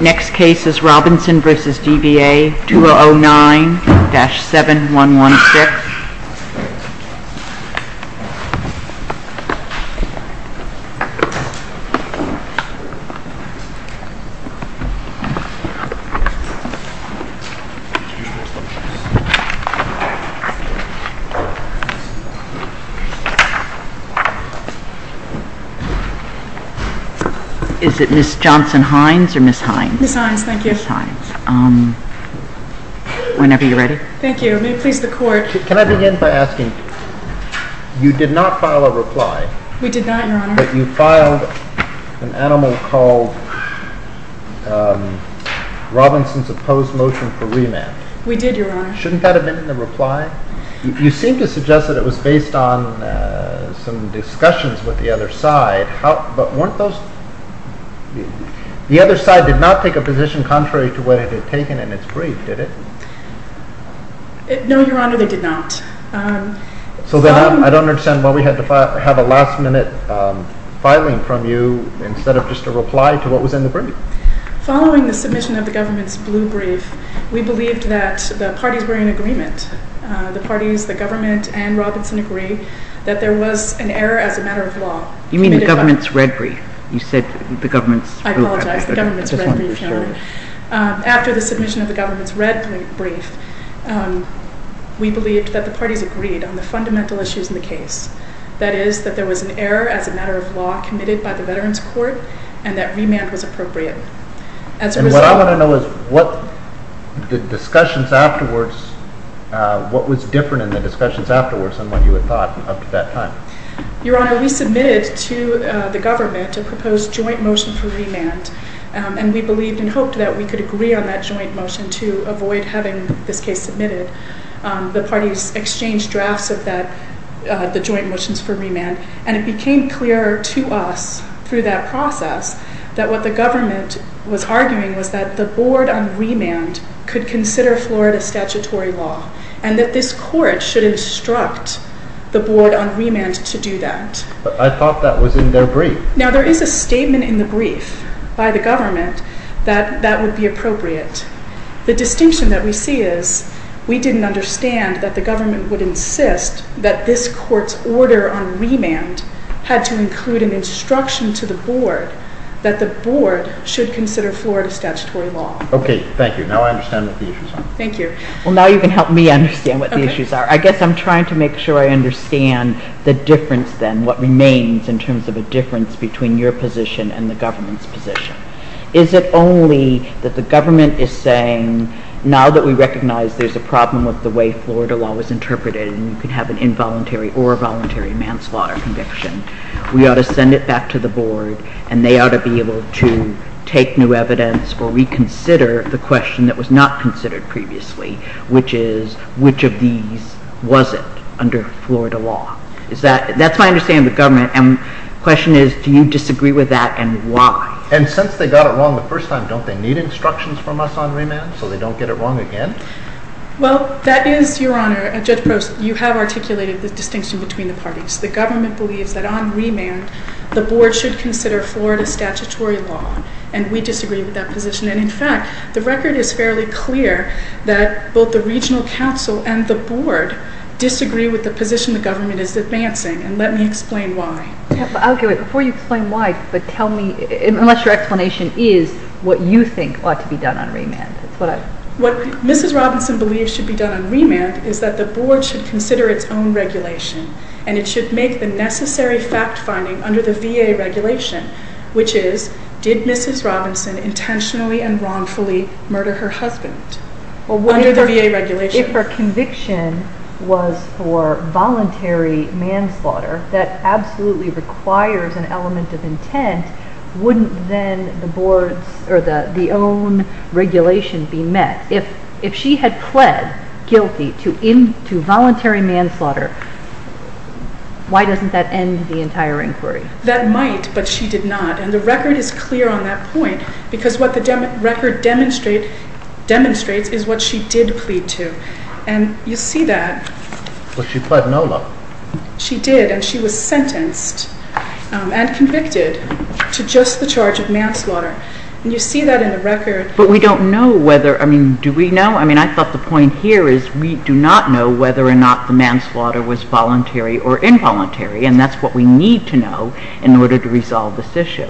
Next case is Robinson v. DVA, 2009-7116. This case is Robinson v. DVA, 2009-7116. You did not file a reply. We did not, Your Honor. But you filed an animal called Robinson's opposed motion for remand. We did, Your Honor. Shouldn't that have been in the reply? You seem to suggest that it was based on some discussions with the other side. But weren't those – the other side did not take a position contrary to what it had taken in its brief, did it? No, Your Honor, they did not. So then I don't understand why we had to have a last-minute filing from you instead of just a reply to what was in the brief. Following the submission of the government's blue brief, we believed that the parties were in agreement. The parties, the government, and Robinson agree that there was an error as a matter of law. You mean the government's red brief. You said the government's blue brief. After the submission of the government's red brief, we believed that the parties agreed on the fundamental issues in the case. That is, that there was an error as a matter of law committed by the Veterans Court and that remand was appropriate. And what I want to know is what the discussions afterwards – what was different in the discussions afterwards than what you had thought up to that time? Your Honor, we submitted to the government a proposed joint motion for remand, and we believed and hoped that we could agree on that joint motion to avoid having this case submitted. The parties exchanged drafts of the joint motions for remand, and it became clear to us through that process that what the government was arguing was that the board on remand could consider Florida statutory law and that this court should instruct the board on remand to do that. But I thought that was in their brief. Now, there is a statement in the brief by the government that that would be appropriate. The distinction that we see is we didn't understand that the government would insist that this court's order on remand had to include an instruction to the board that the board should consider Florida statutory law. Okay. Thank you. Now I understand what the issues are. Thank you. Well, now you can help me understand what the issues are. I guess I'm trying to make sure I understand the difference then, what remains in terms of a difference between your position and the government's position. Is it only that the government is saying now that we recognize there's a problem with the way Florida law was interpreted and you could have an involuntary or a voluntary manslaughter conviction, we ought to send it back to the board and they ought to be able to take new evidence or reconsider the question that was not considered previously, which is which of these wasn't under Florida law? That's my understanding of the government. And the question is do you disagree with that and why? And since they got it wrong the first time, don't they need instructions from us on remand so they don't get it wrong again? Well, that is, Your Honor, Judge Prost, you have articulated the distinction between the parties. The government believes that on remand the board should consider Florida statutory law and we disagree with that position and, in fact, the record is fairly clear that both the regional council and the board disagree with the position the government is advancing and let me explain why. Before you explain why, tell me, unless your explanation is what you think ought to be done on remand. What Mrs. Robinson believes should be done on remand is that the board should consider its own regulation and it should make the necessary fact-finding under the VA regulation, which is did Mrs. Robinson intentionally and wrongfully murder her husband under the VA regulation? If her conviction was for voluntary manslaughter that absolutely requires an element of intent, wouldn't then the board's or the own regulation be met? If she had pled guilty to voluntary manslaughter, why doesn't that end the entire inquiry? That might, but she did not, and the record is clear on that point because what the record demonstrates is what she did plead to and you see that. But she pled no law. She did and she was sentenced and convicted to just the charge of manslaughter and you see that in the record. But we don't know whether, I mean, do we know? I mean, I thought the point here is we do not know whether or not the manslaughter was voluntary or involuntary and that's what we need to know in order to resolve this issue.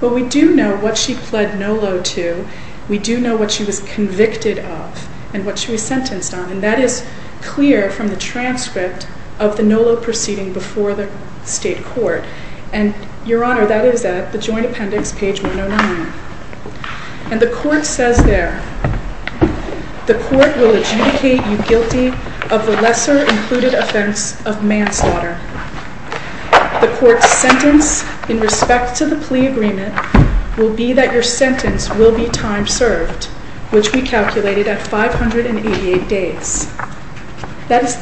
But we do know what she pled no law to. We do know what she was convicted of and what she was sentenced on and that is clear from the transcript of the no law proceeding before the state court and, Your Honor, that is at the joint appendix, page 109. And the court says there, the court will adjudicate you guilty of the lesser included offense of manslaughter. The court's sentence in respect to the plea agreement will be that your sentence will be time served, which we calculated at 588 days. That is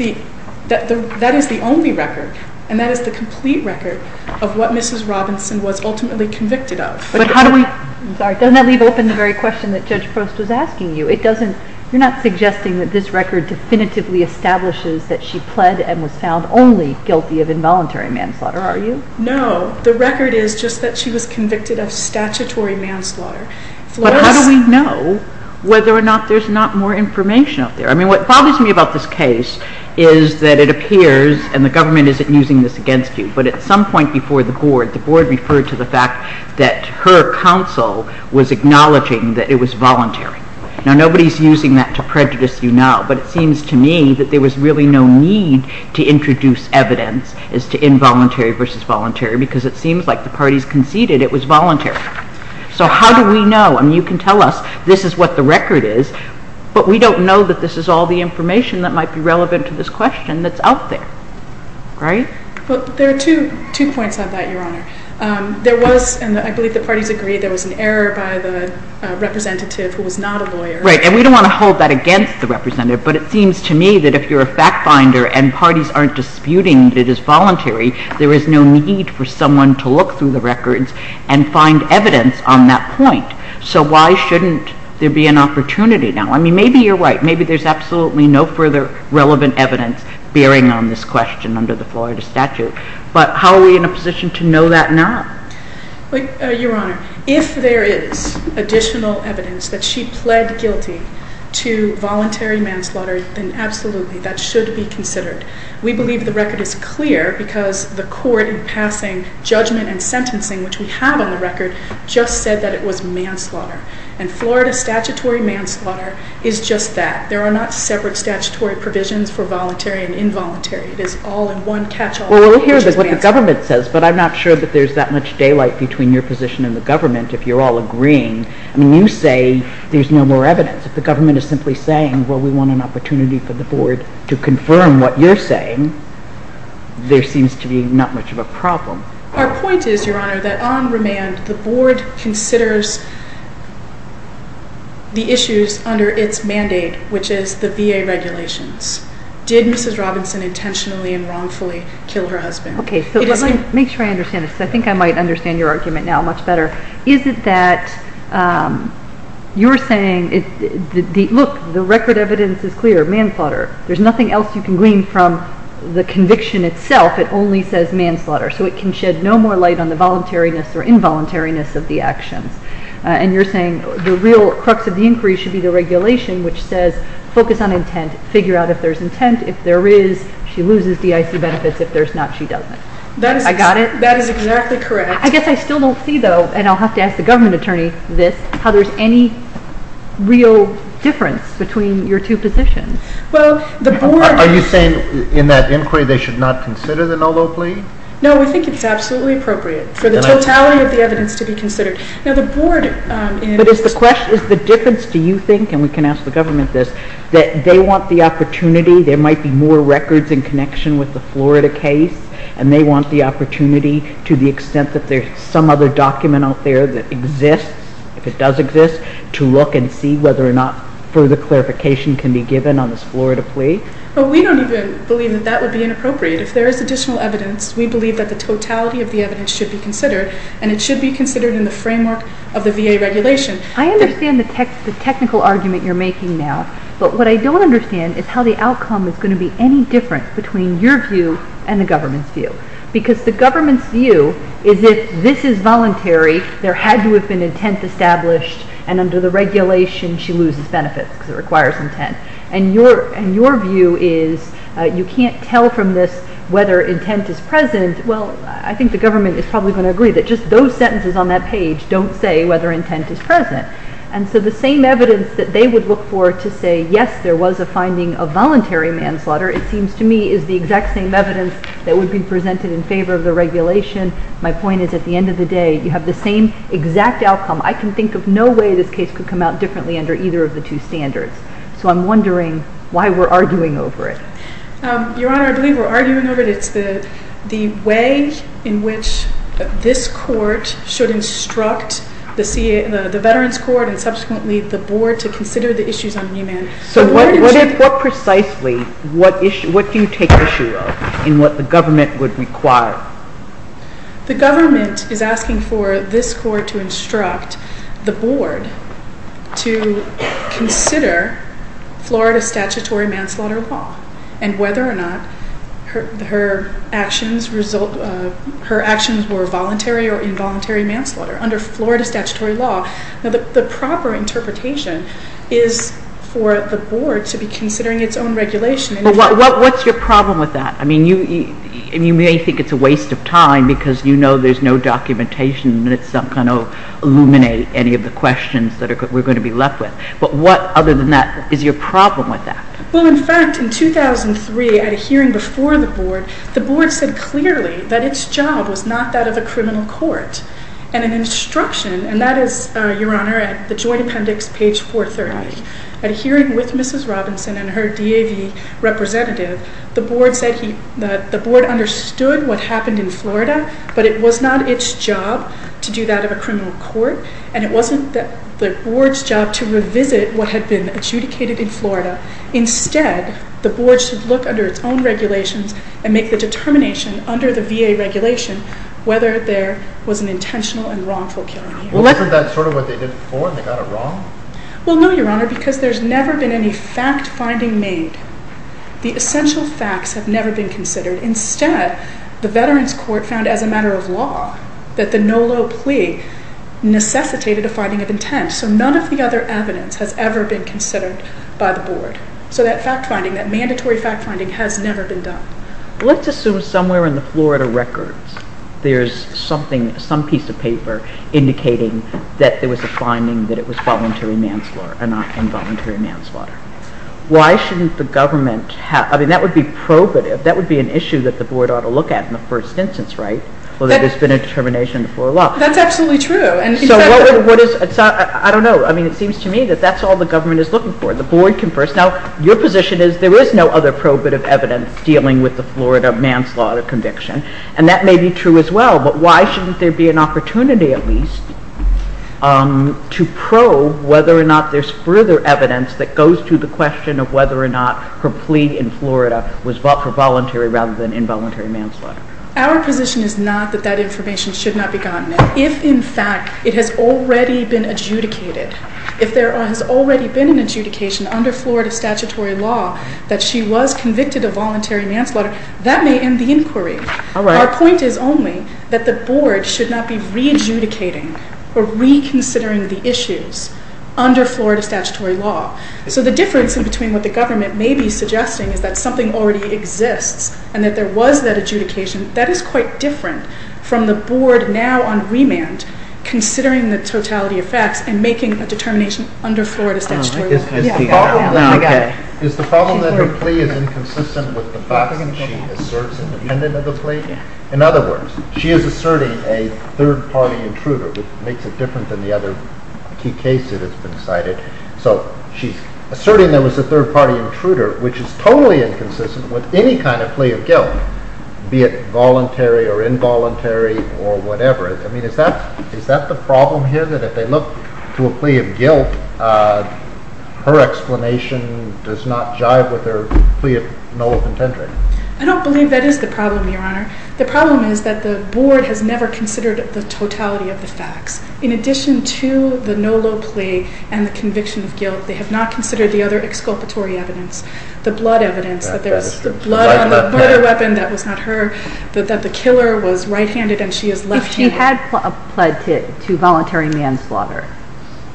the only record and that is the complete record of what Mrs. Robinson was ultimately convicted of. But how do we... I'm sorry, doesn't that leave open the very question that Judge Prost was asking you? You're not suggesting that this record definitively establishes that she pled and was found only guilty of involuntary manslaughter, are you? No, the record is just that she was convicted of statutory manslaughter. But how do we know whether or not there's not more information out there? I mean, what bothers me about this case is that it appears, and the government isn't using this against you, but at some point before the board, the board referred to the fact that her counsel was acknowledging that it was voluntary. Now, nobody's using that to prejudice you now, but it seems to me that there was really no need to introduce evidence as to involuntary versus voluntary because it seems like the parties conceded it was voluntary. So how do we know? I mean, you can tell us this is what the record is, but we don't know that this is all the information that might be relevant to this question that's out there, right? Well, there are two points on that, Your Honor. There was, and I believe the parties agreed, there was an error by the representative who was not a lawyer. Right, and we don't want to hold that against the representative, but it seems to me that if you're a fact finder and parties aren't disputing that it is voluntary, there is no need for someone to look through the records and find evidence on that point. So why shouldn't there be an opportunity now? I mean, maybe you're right. Maybe there's absolutely no further relevant evidence bearing on this question under the Florida statute, but how are we in a position to know that now? Your Honor, if there is additional evidence that she pled guilty to voluntary manslaughter, then absolutely that should be considered. We believe the record is clear because the court in passing judgment and sentencing, which we have on the record, just said that it was manslaughter, and Florida statutory manslaughter is just that. There are not separate statutory provisions for voluntary and involuntary. It is all in one catch-all. Well, we'll hear what the government says, but I'm not sure that there's that much daylight between your position and the government if you're all agreeing. I mean, you say there's no more evidence. If the government is simply saying, well, we want an opportunity for the board to confirm what you're saying, there seems to be not much of a problem. Our point is, Your Honor, that on remand, the board considers the issues under its mandate, which is the VA regulations. Did Mrs. Robinson intentionally and wrongfully kill her husband? Okay, so let me make sure I understand this, because I think I might understand your argument now much better. Is it that you're saying, look, the record evidence is clear, manslaughter. There's nothing else you can glean from the conviction itself. It only says manslaughter, so it can shed no more light on the voluntariness or involuntariness of the actions. And you're saying the real crux of the inquiry should be the regulation, which says focus on intent, figure out if there's intent. If there is, she loses DIC benefits. If there's not, she doesn't. I got it? That is exactly correct. I guess I still don't see, though, and I'll have to ask the government attorney this, how there's any real difference between your two positions. Are you saying in that inquiry they should not consider the no low plea? No, we think it's absolutely appropriate for the totality of the evidence to be considered. But is the difference, do you think, and we can ask the government this, that they want the opportunity, there might be more records in connection with the Florida case, and they want the opportunity to the extent that there's some other document out there that exists, if it does exist, to look and see whether or not further clarification can be given on this Florida plea. But we don't even believe that that would be inappropriate. If there is additional evidence, we believe that the totality of the evidence should be considered, and it should be considered in the framework of the VA regulation. I understand the technical argument you're making now, but what I don't understand is how the outcome is going to be any different between your view and the government's view. Because the government's view is that this is voluntary, there had to have been intent established, and under the regulation she loses benefits because it requires intent. And your view is you can't tell from this whether intent is present. Well, I think the government is probably going to agree that just those sentences on that page don't say whether intent is present. And so the same evidence that they would look for to say, yes, there was a finding of voluntary manslaughter, it seems to me is the exact same evidence that would be presented in favor of the regulation. My point is at the end of the day, you have the same exact outcome. I can think of no way this case could come out differently under either of the two standards. So I'm wondering why we're arguing over it. Your Honor, I believe we're arguing over it. It's the way in which this Court should instruct the Veterans Court and subsequently the Board to consider the issues on remand. So precisely what do you take issue of in what the government would require? The government is asking for this Court to instruct the Board to consider Florida statutory manslaughter law and whether or not her actions were voluntary or involuntary manslaughter under Florida statutory law. The proper interpretation is for the Board to be considering its own regulation. But what's your problem with that? I mean, you may think it's a waste of time because you know there's no documentation that's going to illuminate any of the questions that we're going to be left with. But what other than that is your problem with that? Well, in fact, in 2003 at a hearing before the Board, the Board said clearly that its job was not that of a criminal court. And an instruction, and that is, Your Honor, at the Joint Appendix, page 430, at a hearing with Mrs. Robinson and her DAV representative, the Board said the Board understood what happened in Florida, but it was not its job to do that of a criminal court, and it wasn't the Board's job to revisit what had been adjudicated in Florida. Instead, the Board should look under its own regulations and make the determination under the VA regulation whether there was an intentional and wrongful killing here. Well, isn't that sort of what they did before and they got it wrong? Well, no, Your Honor, because there's never been any fact-finding made. The essential facts have never been considered. Instead, the Veterans Court found as a matter of law that the Nolo plea necessitated a finding of intent. So none of the other evidence has ever been considered by the Board. So that fact-finding, that mandatory fact-finding has never been done. Let's assume somewhere in the Florida records there's some piece of paper indicating that there was a finding that it was involuntary manslaughter. Why shouldn't the government have, I mean, that would be probative, that would be an issue that the Board ought to look at in the first instance, right? Whether there's been a determination before law. That's absolutely true. So what is, I don't know, I mean, it seems to me that that's all the Government is looking for. The Board confers. Now, your position is there is no other probative evidence dealing with the Florida manslaughter conviction. And that may be true as well. But why shouldn't there be an opportunity at least to probe whether or not there's further evidence that goes to the question of whether or not her plea in Florida was for voluntary rather than involuntary manslaughter? Our position is not that that information should not be gotten. If, in fact, it has already been adjudicated, if there has already been an adjudication under Florida statutory law that she was convicted of voluntary manslaughter, that may end the inquiry. Our point is only that the Board should not be re-adjudicating or reconsidering the issues under Florida statutory law. So the difference in between what the Government may be suggesting is that something already exists and that there was that adjudication. That is quite different from the Board now on remand considering the totality of facts and making a determination under Florida statutory law. Is the problem that her plea is inconsistent with the facts that she asserts independent of the plea? In other words, she is asserting a third-party intruder, which makes it different than the other key cases that have been cited. So she's asserting there was a third-party intruder, which is totally inconsistent with any kind of plea of guilt, be it voluntary or involuntary or whatever. Is that the problem here, that if they look to a plea of guilt, her explanation does not jive with her plea of no low contentry? I don't believe that is the problem, Your Honor. The problem is that the Board has never considered the totality of the facts. In addition to the no low plea and the conviction of guilt, they have not considered the other exculpatory evidence, the blood evidence, the blood on the murder weapon that was not her, that the killer was right-handed and she is left-handed. If she had pled to voluntary manslaughter,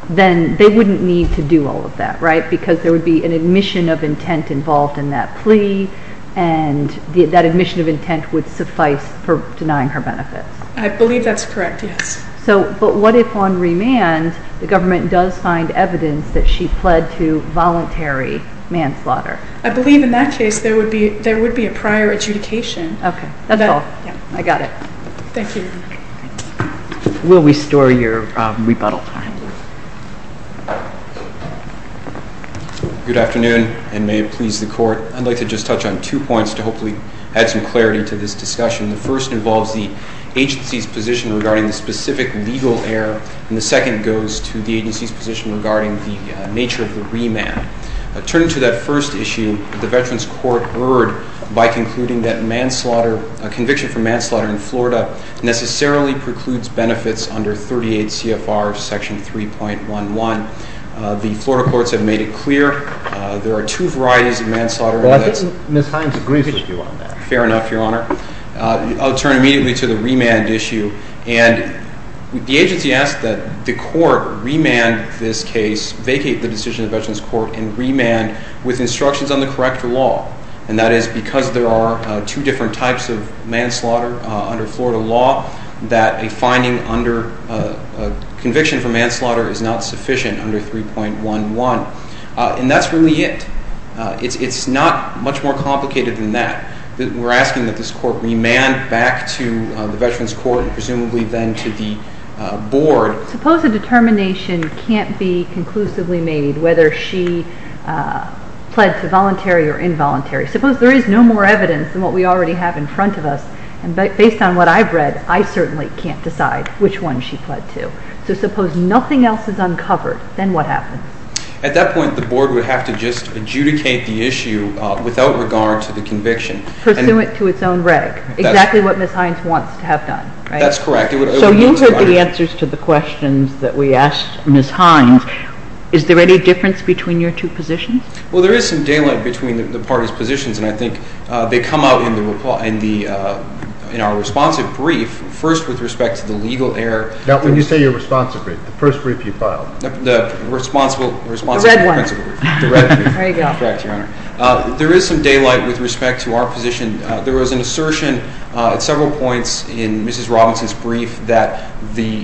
then they wouldn't need to do all of that, right? Because there would be an admission of intent involved in that plea, and that admission of intent would suffice for denying her benefits. I believe that's correct, yes. But what if on remand the government does find evidence that she pled to voluntary manslaughter? I believe in that case there would be a prior adjudication. Okay, that's all. I got it. Thank you. Will we store your rebuttal? Good afternoon, and may it please the Court. I'd like to just touch on two points to hopefully add some clarity to this discussion. The first involves the agency's position regarding the specific legal error, and the second goes to the agency's position regarding the nature of the remand. Turning to that first issue, the Veterans Court erred by concluding that a conviction for manslaughter in Florida necessarily precludes benefits under 38 CFR Section 3.11. The Florida courts have made it clear there are two varieties of manslaughter. Well, I think Ms. Hines agrees with you on that. Fair enough, Your Honor. I'll turn immediately to the remand issue, and the agency asked that the Court remand this case, vacate the decision of the Veterans Court, and remand with instructions on the correct law, and that is because there are two different types of manslaughter under Florida law, that a finding under a conviction for manslaughter is not sufficient under 3.11. And that's really it. It's not much more complicated than that. We're asking that this Court remand back to the Veterans Court, and presumably then to the Board. Suppose a determination can't be conclusively made whether she pled to voluntary or involuntary. Suppose there is no more evidence than what we already have in front of us, and based on what I've read, I certainly can't decide which one she pled to. So suppose nothing else is uncovered, then what happens? At that point, the Board would have to just adjudicate the issue without regard to the conviction. Pursuant to its own reg. Exactly what Ms. Hines wants to have done, right? That's correct. So you heard the answers to the questions that we asked Ms. Hines. Is there any difference between your two positions? Well, there is some daylight between the parties' positions, and I think they come out in our responsive brief, first with respect to the legal error. Now, when you say your responsive brief, the first brief you filed. The responsible principle brief. The red one. There you go. Correct, Your Honor. There is some daylight with respect to our position. There was an assertion at several points in Mrs. Robinson's brief that the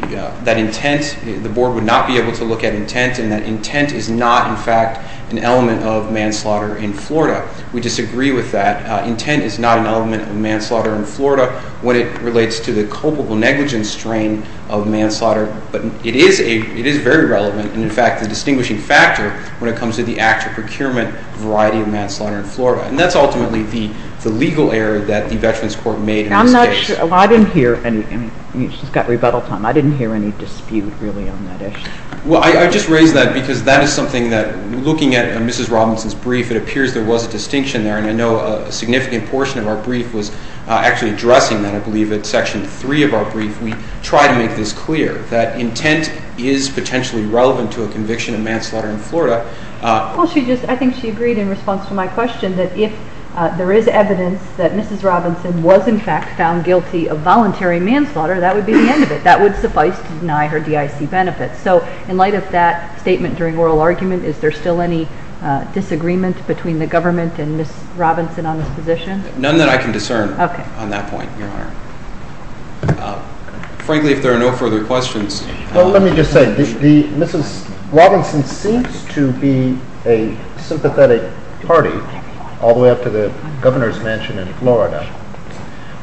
Board would not be able to look at intent, and that intent is not, in fact, an element of manslaughter in Florida. We disagree with that. Intent is not an element of manslaughter in Florida when it relates to the culpable negligence strain of manslaughter, but it is very relevant and, in fact, the distinguishing factor when it comes to the active procurement variety of manslaughter in Florida. And that's ultimately the legal error that the Veterans Court made in this case. I'm not sure. I didn't hear anything. She's got rebuttal time. I didn't hear any dispute, really, on that issue. Well, I just raise that because that is something that, looking at Mrs. Robinson's brief, it appears there was a distinction there, and I know a significant portion of our brief was actually addressing that. I believe it's Section 3 of our brief. to a conviction of manslaughter in Florida. I think she agreed in response to my question that if there is evidence that Mrs. Robinson was, in fact, found guilty of voluntary manslaughter, that would be the end of it. That would suffice to deny her DIC benefits. So in light of that statement during oral argument, is there still any disagreement between the government and Mrs. Robinson on this position? None that I can discern on that point, Your Honor. Frankly, if there are no further questions. Well, let me just say, Mrs. Robinson seems to be a sympathetic party all the way up to the governor's mansion in Florida,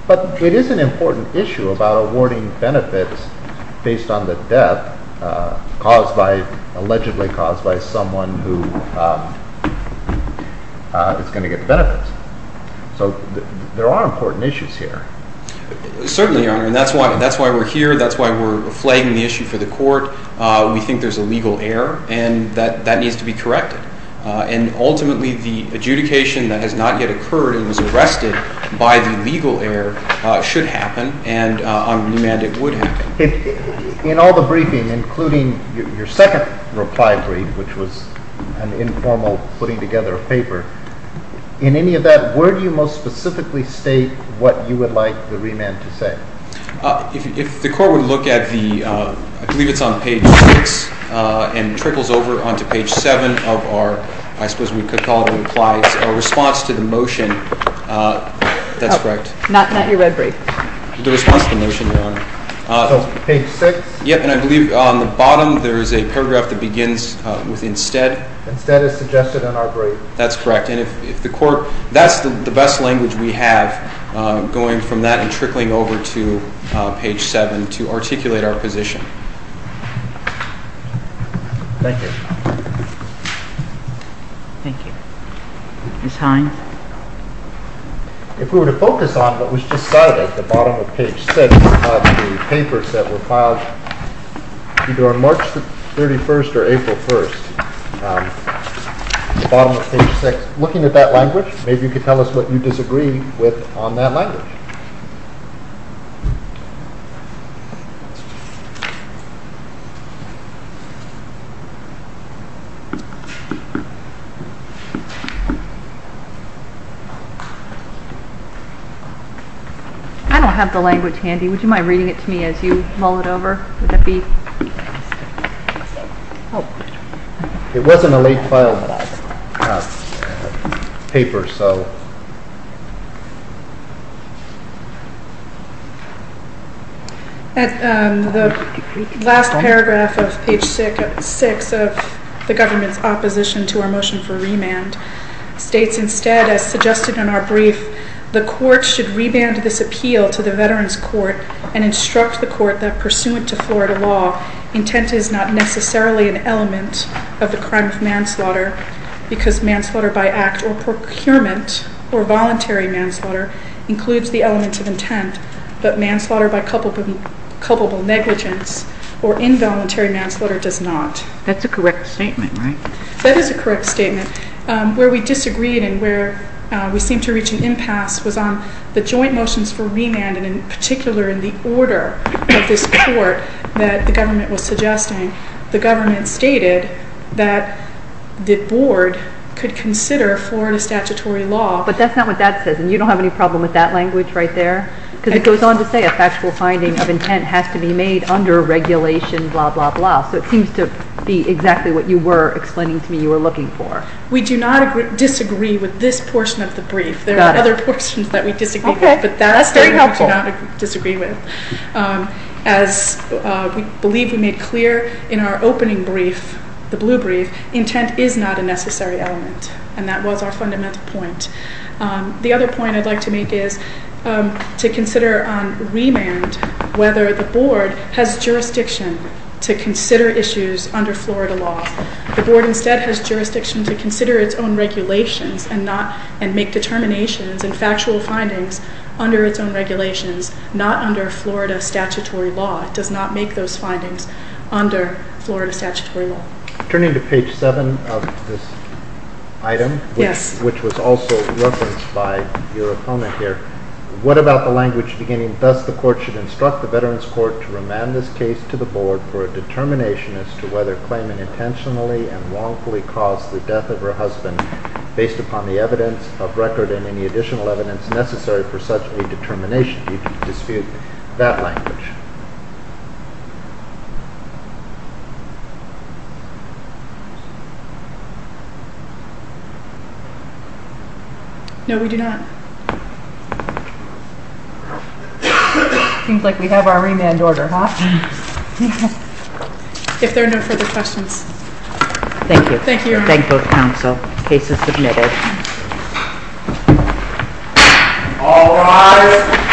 but it is an important issue about awarding benefits based on the death allegedly caused by someone who is going to get the benefits. So there are important issues here. Certainly, Your Honor, and that's why we're here. That's why we're flagging the issue for the court. We think there's a legal error, and that needs to be corrected. And ultimately, the adjudication that has not yet occurred and was arrested by the legal error should happen, and on remand it would happen. In all the briefing, including your second reply brief, which was an informal putting together of paper, in any of that, where do you most specifically state what you would like the remand to say? If the court would look at the, I believe it's on page 6, and trickles over onto page 7 of our, I suppose we could call it a response to the motion, that's correct. Not your red brief. The response to the motion, Your Honor. Page 6? Yep, and I believe on the bottom there is a paragraph that begins with instead. Instead is suggested in our brief. That's correct. And if the court, that's the best language we have, going from that and trickling over to page 7 to articulate our position. Thank you. Thank you. Ms. Hines? If we were to focus on what was just cited at the bottom of page 6 of the papers that were filed either on March 31st or April 1st, the bottom of page 6, looking at that language, maybe you could tell us what you disagree with on that language. I don't have the language handy. Would you mind reading it to me as you mull it over? Would that be helpful? It wasn't a late filed paper, so. The last paragraph of page 6 of the government's opposition to our motion for remand states instead, as suggested in our brief, the court should reband this appeal to the Veterans Court and instruct the court that, pursuant to Florida law, intent is not necessarily an element of the crime of manslaughter because manslaughter by act or procurement or voluntary manslaughter includes the element of intent, but manslaughter by culpable negligence or involuntary manslaughter does not. That's a correct statement, right? That is a correct statement. Where we disagreed and where we seemed to reach an impasse was on the joint motions for remand, and in particular in the order of this court that the government was suggesting. The government stated that the board could consider Florida statutory law. But that's not what that says, and you don't have any problem with that language right there? Because it goes on to say a factual finding of intent has to be made under regulation, blah, blah, blah. So it seems to be exactly what you were explaining to me you were looking for. We do not disagree with this portion of the brief. There are other portions that we disagree with. Okay, that's very helpful. But that we do not disagree with. As we believe we made clear in our opening brief, the blue brief, intent is not a necessary element, and that was our fundamental point. The other point I'd like to make is to consider on remand whether the board has jurisdiction to consider issues under Florida law. The board instead has jurisdiction to consider its own regulations and make determinations and factual findings under its own regulations, not under Florida statutory law. It does not make those findings under Florida statutory law. Turning to page 7 of this item, which was also referenced by your opponent here, what about the language beginning, Thus the court should instruct the Veterans Court to remand this case to the board for a determination as to whether claiming intentionally and wrongfully caused the death of her husband based upon the evidence of record and any additional evidence necessary for such a determination. Do you dispute that language? No, we do not. Seems like we have our remand order, huh? If there are no further questions. Thank you. Thank you, Your Honor. Thank both counsel. Case is submitted. All rise.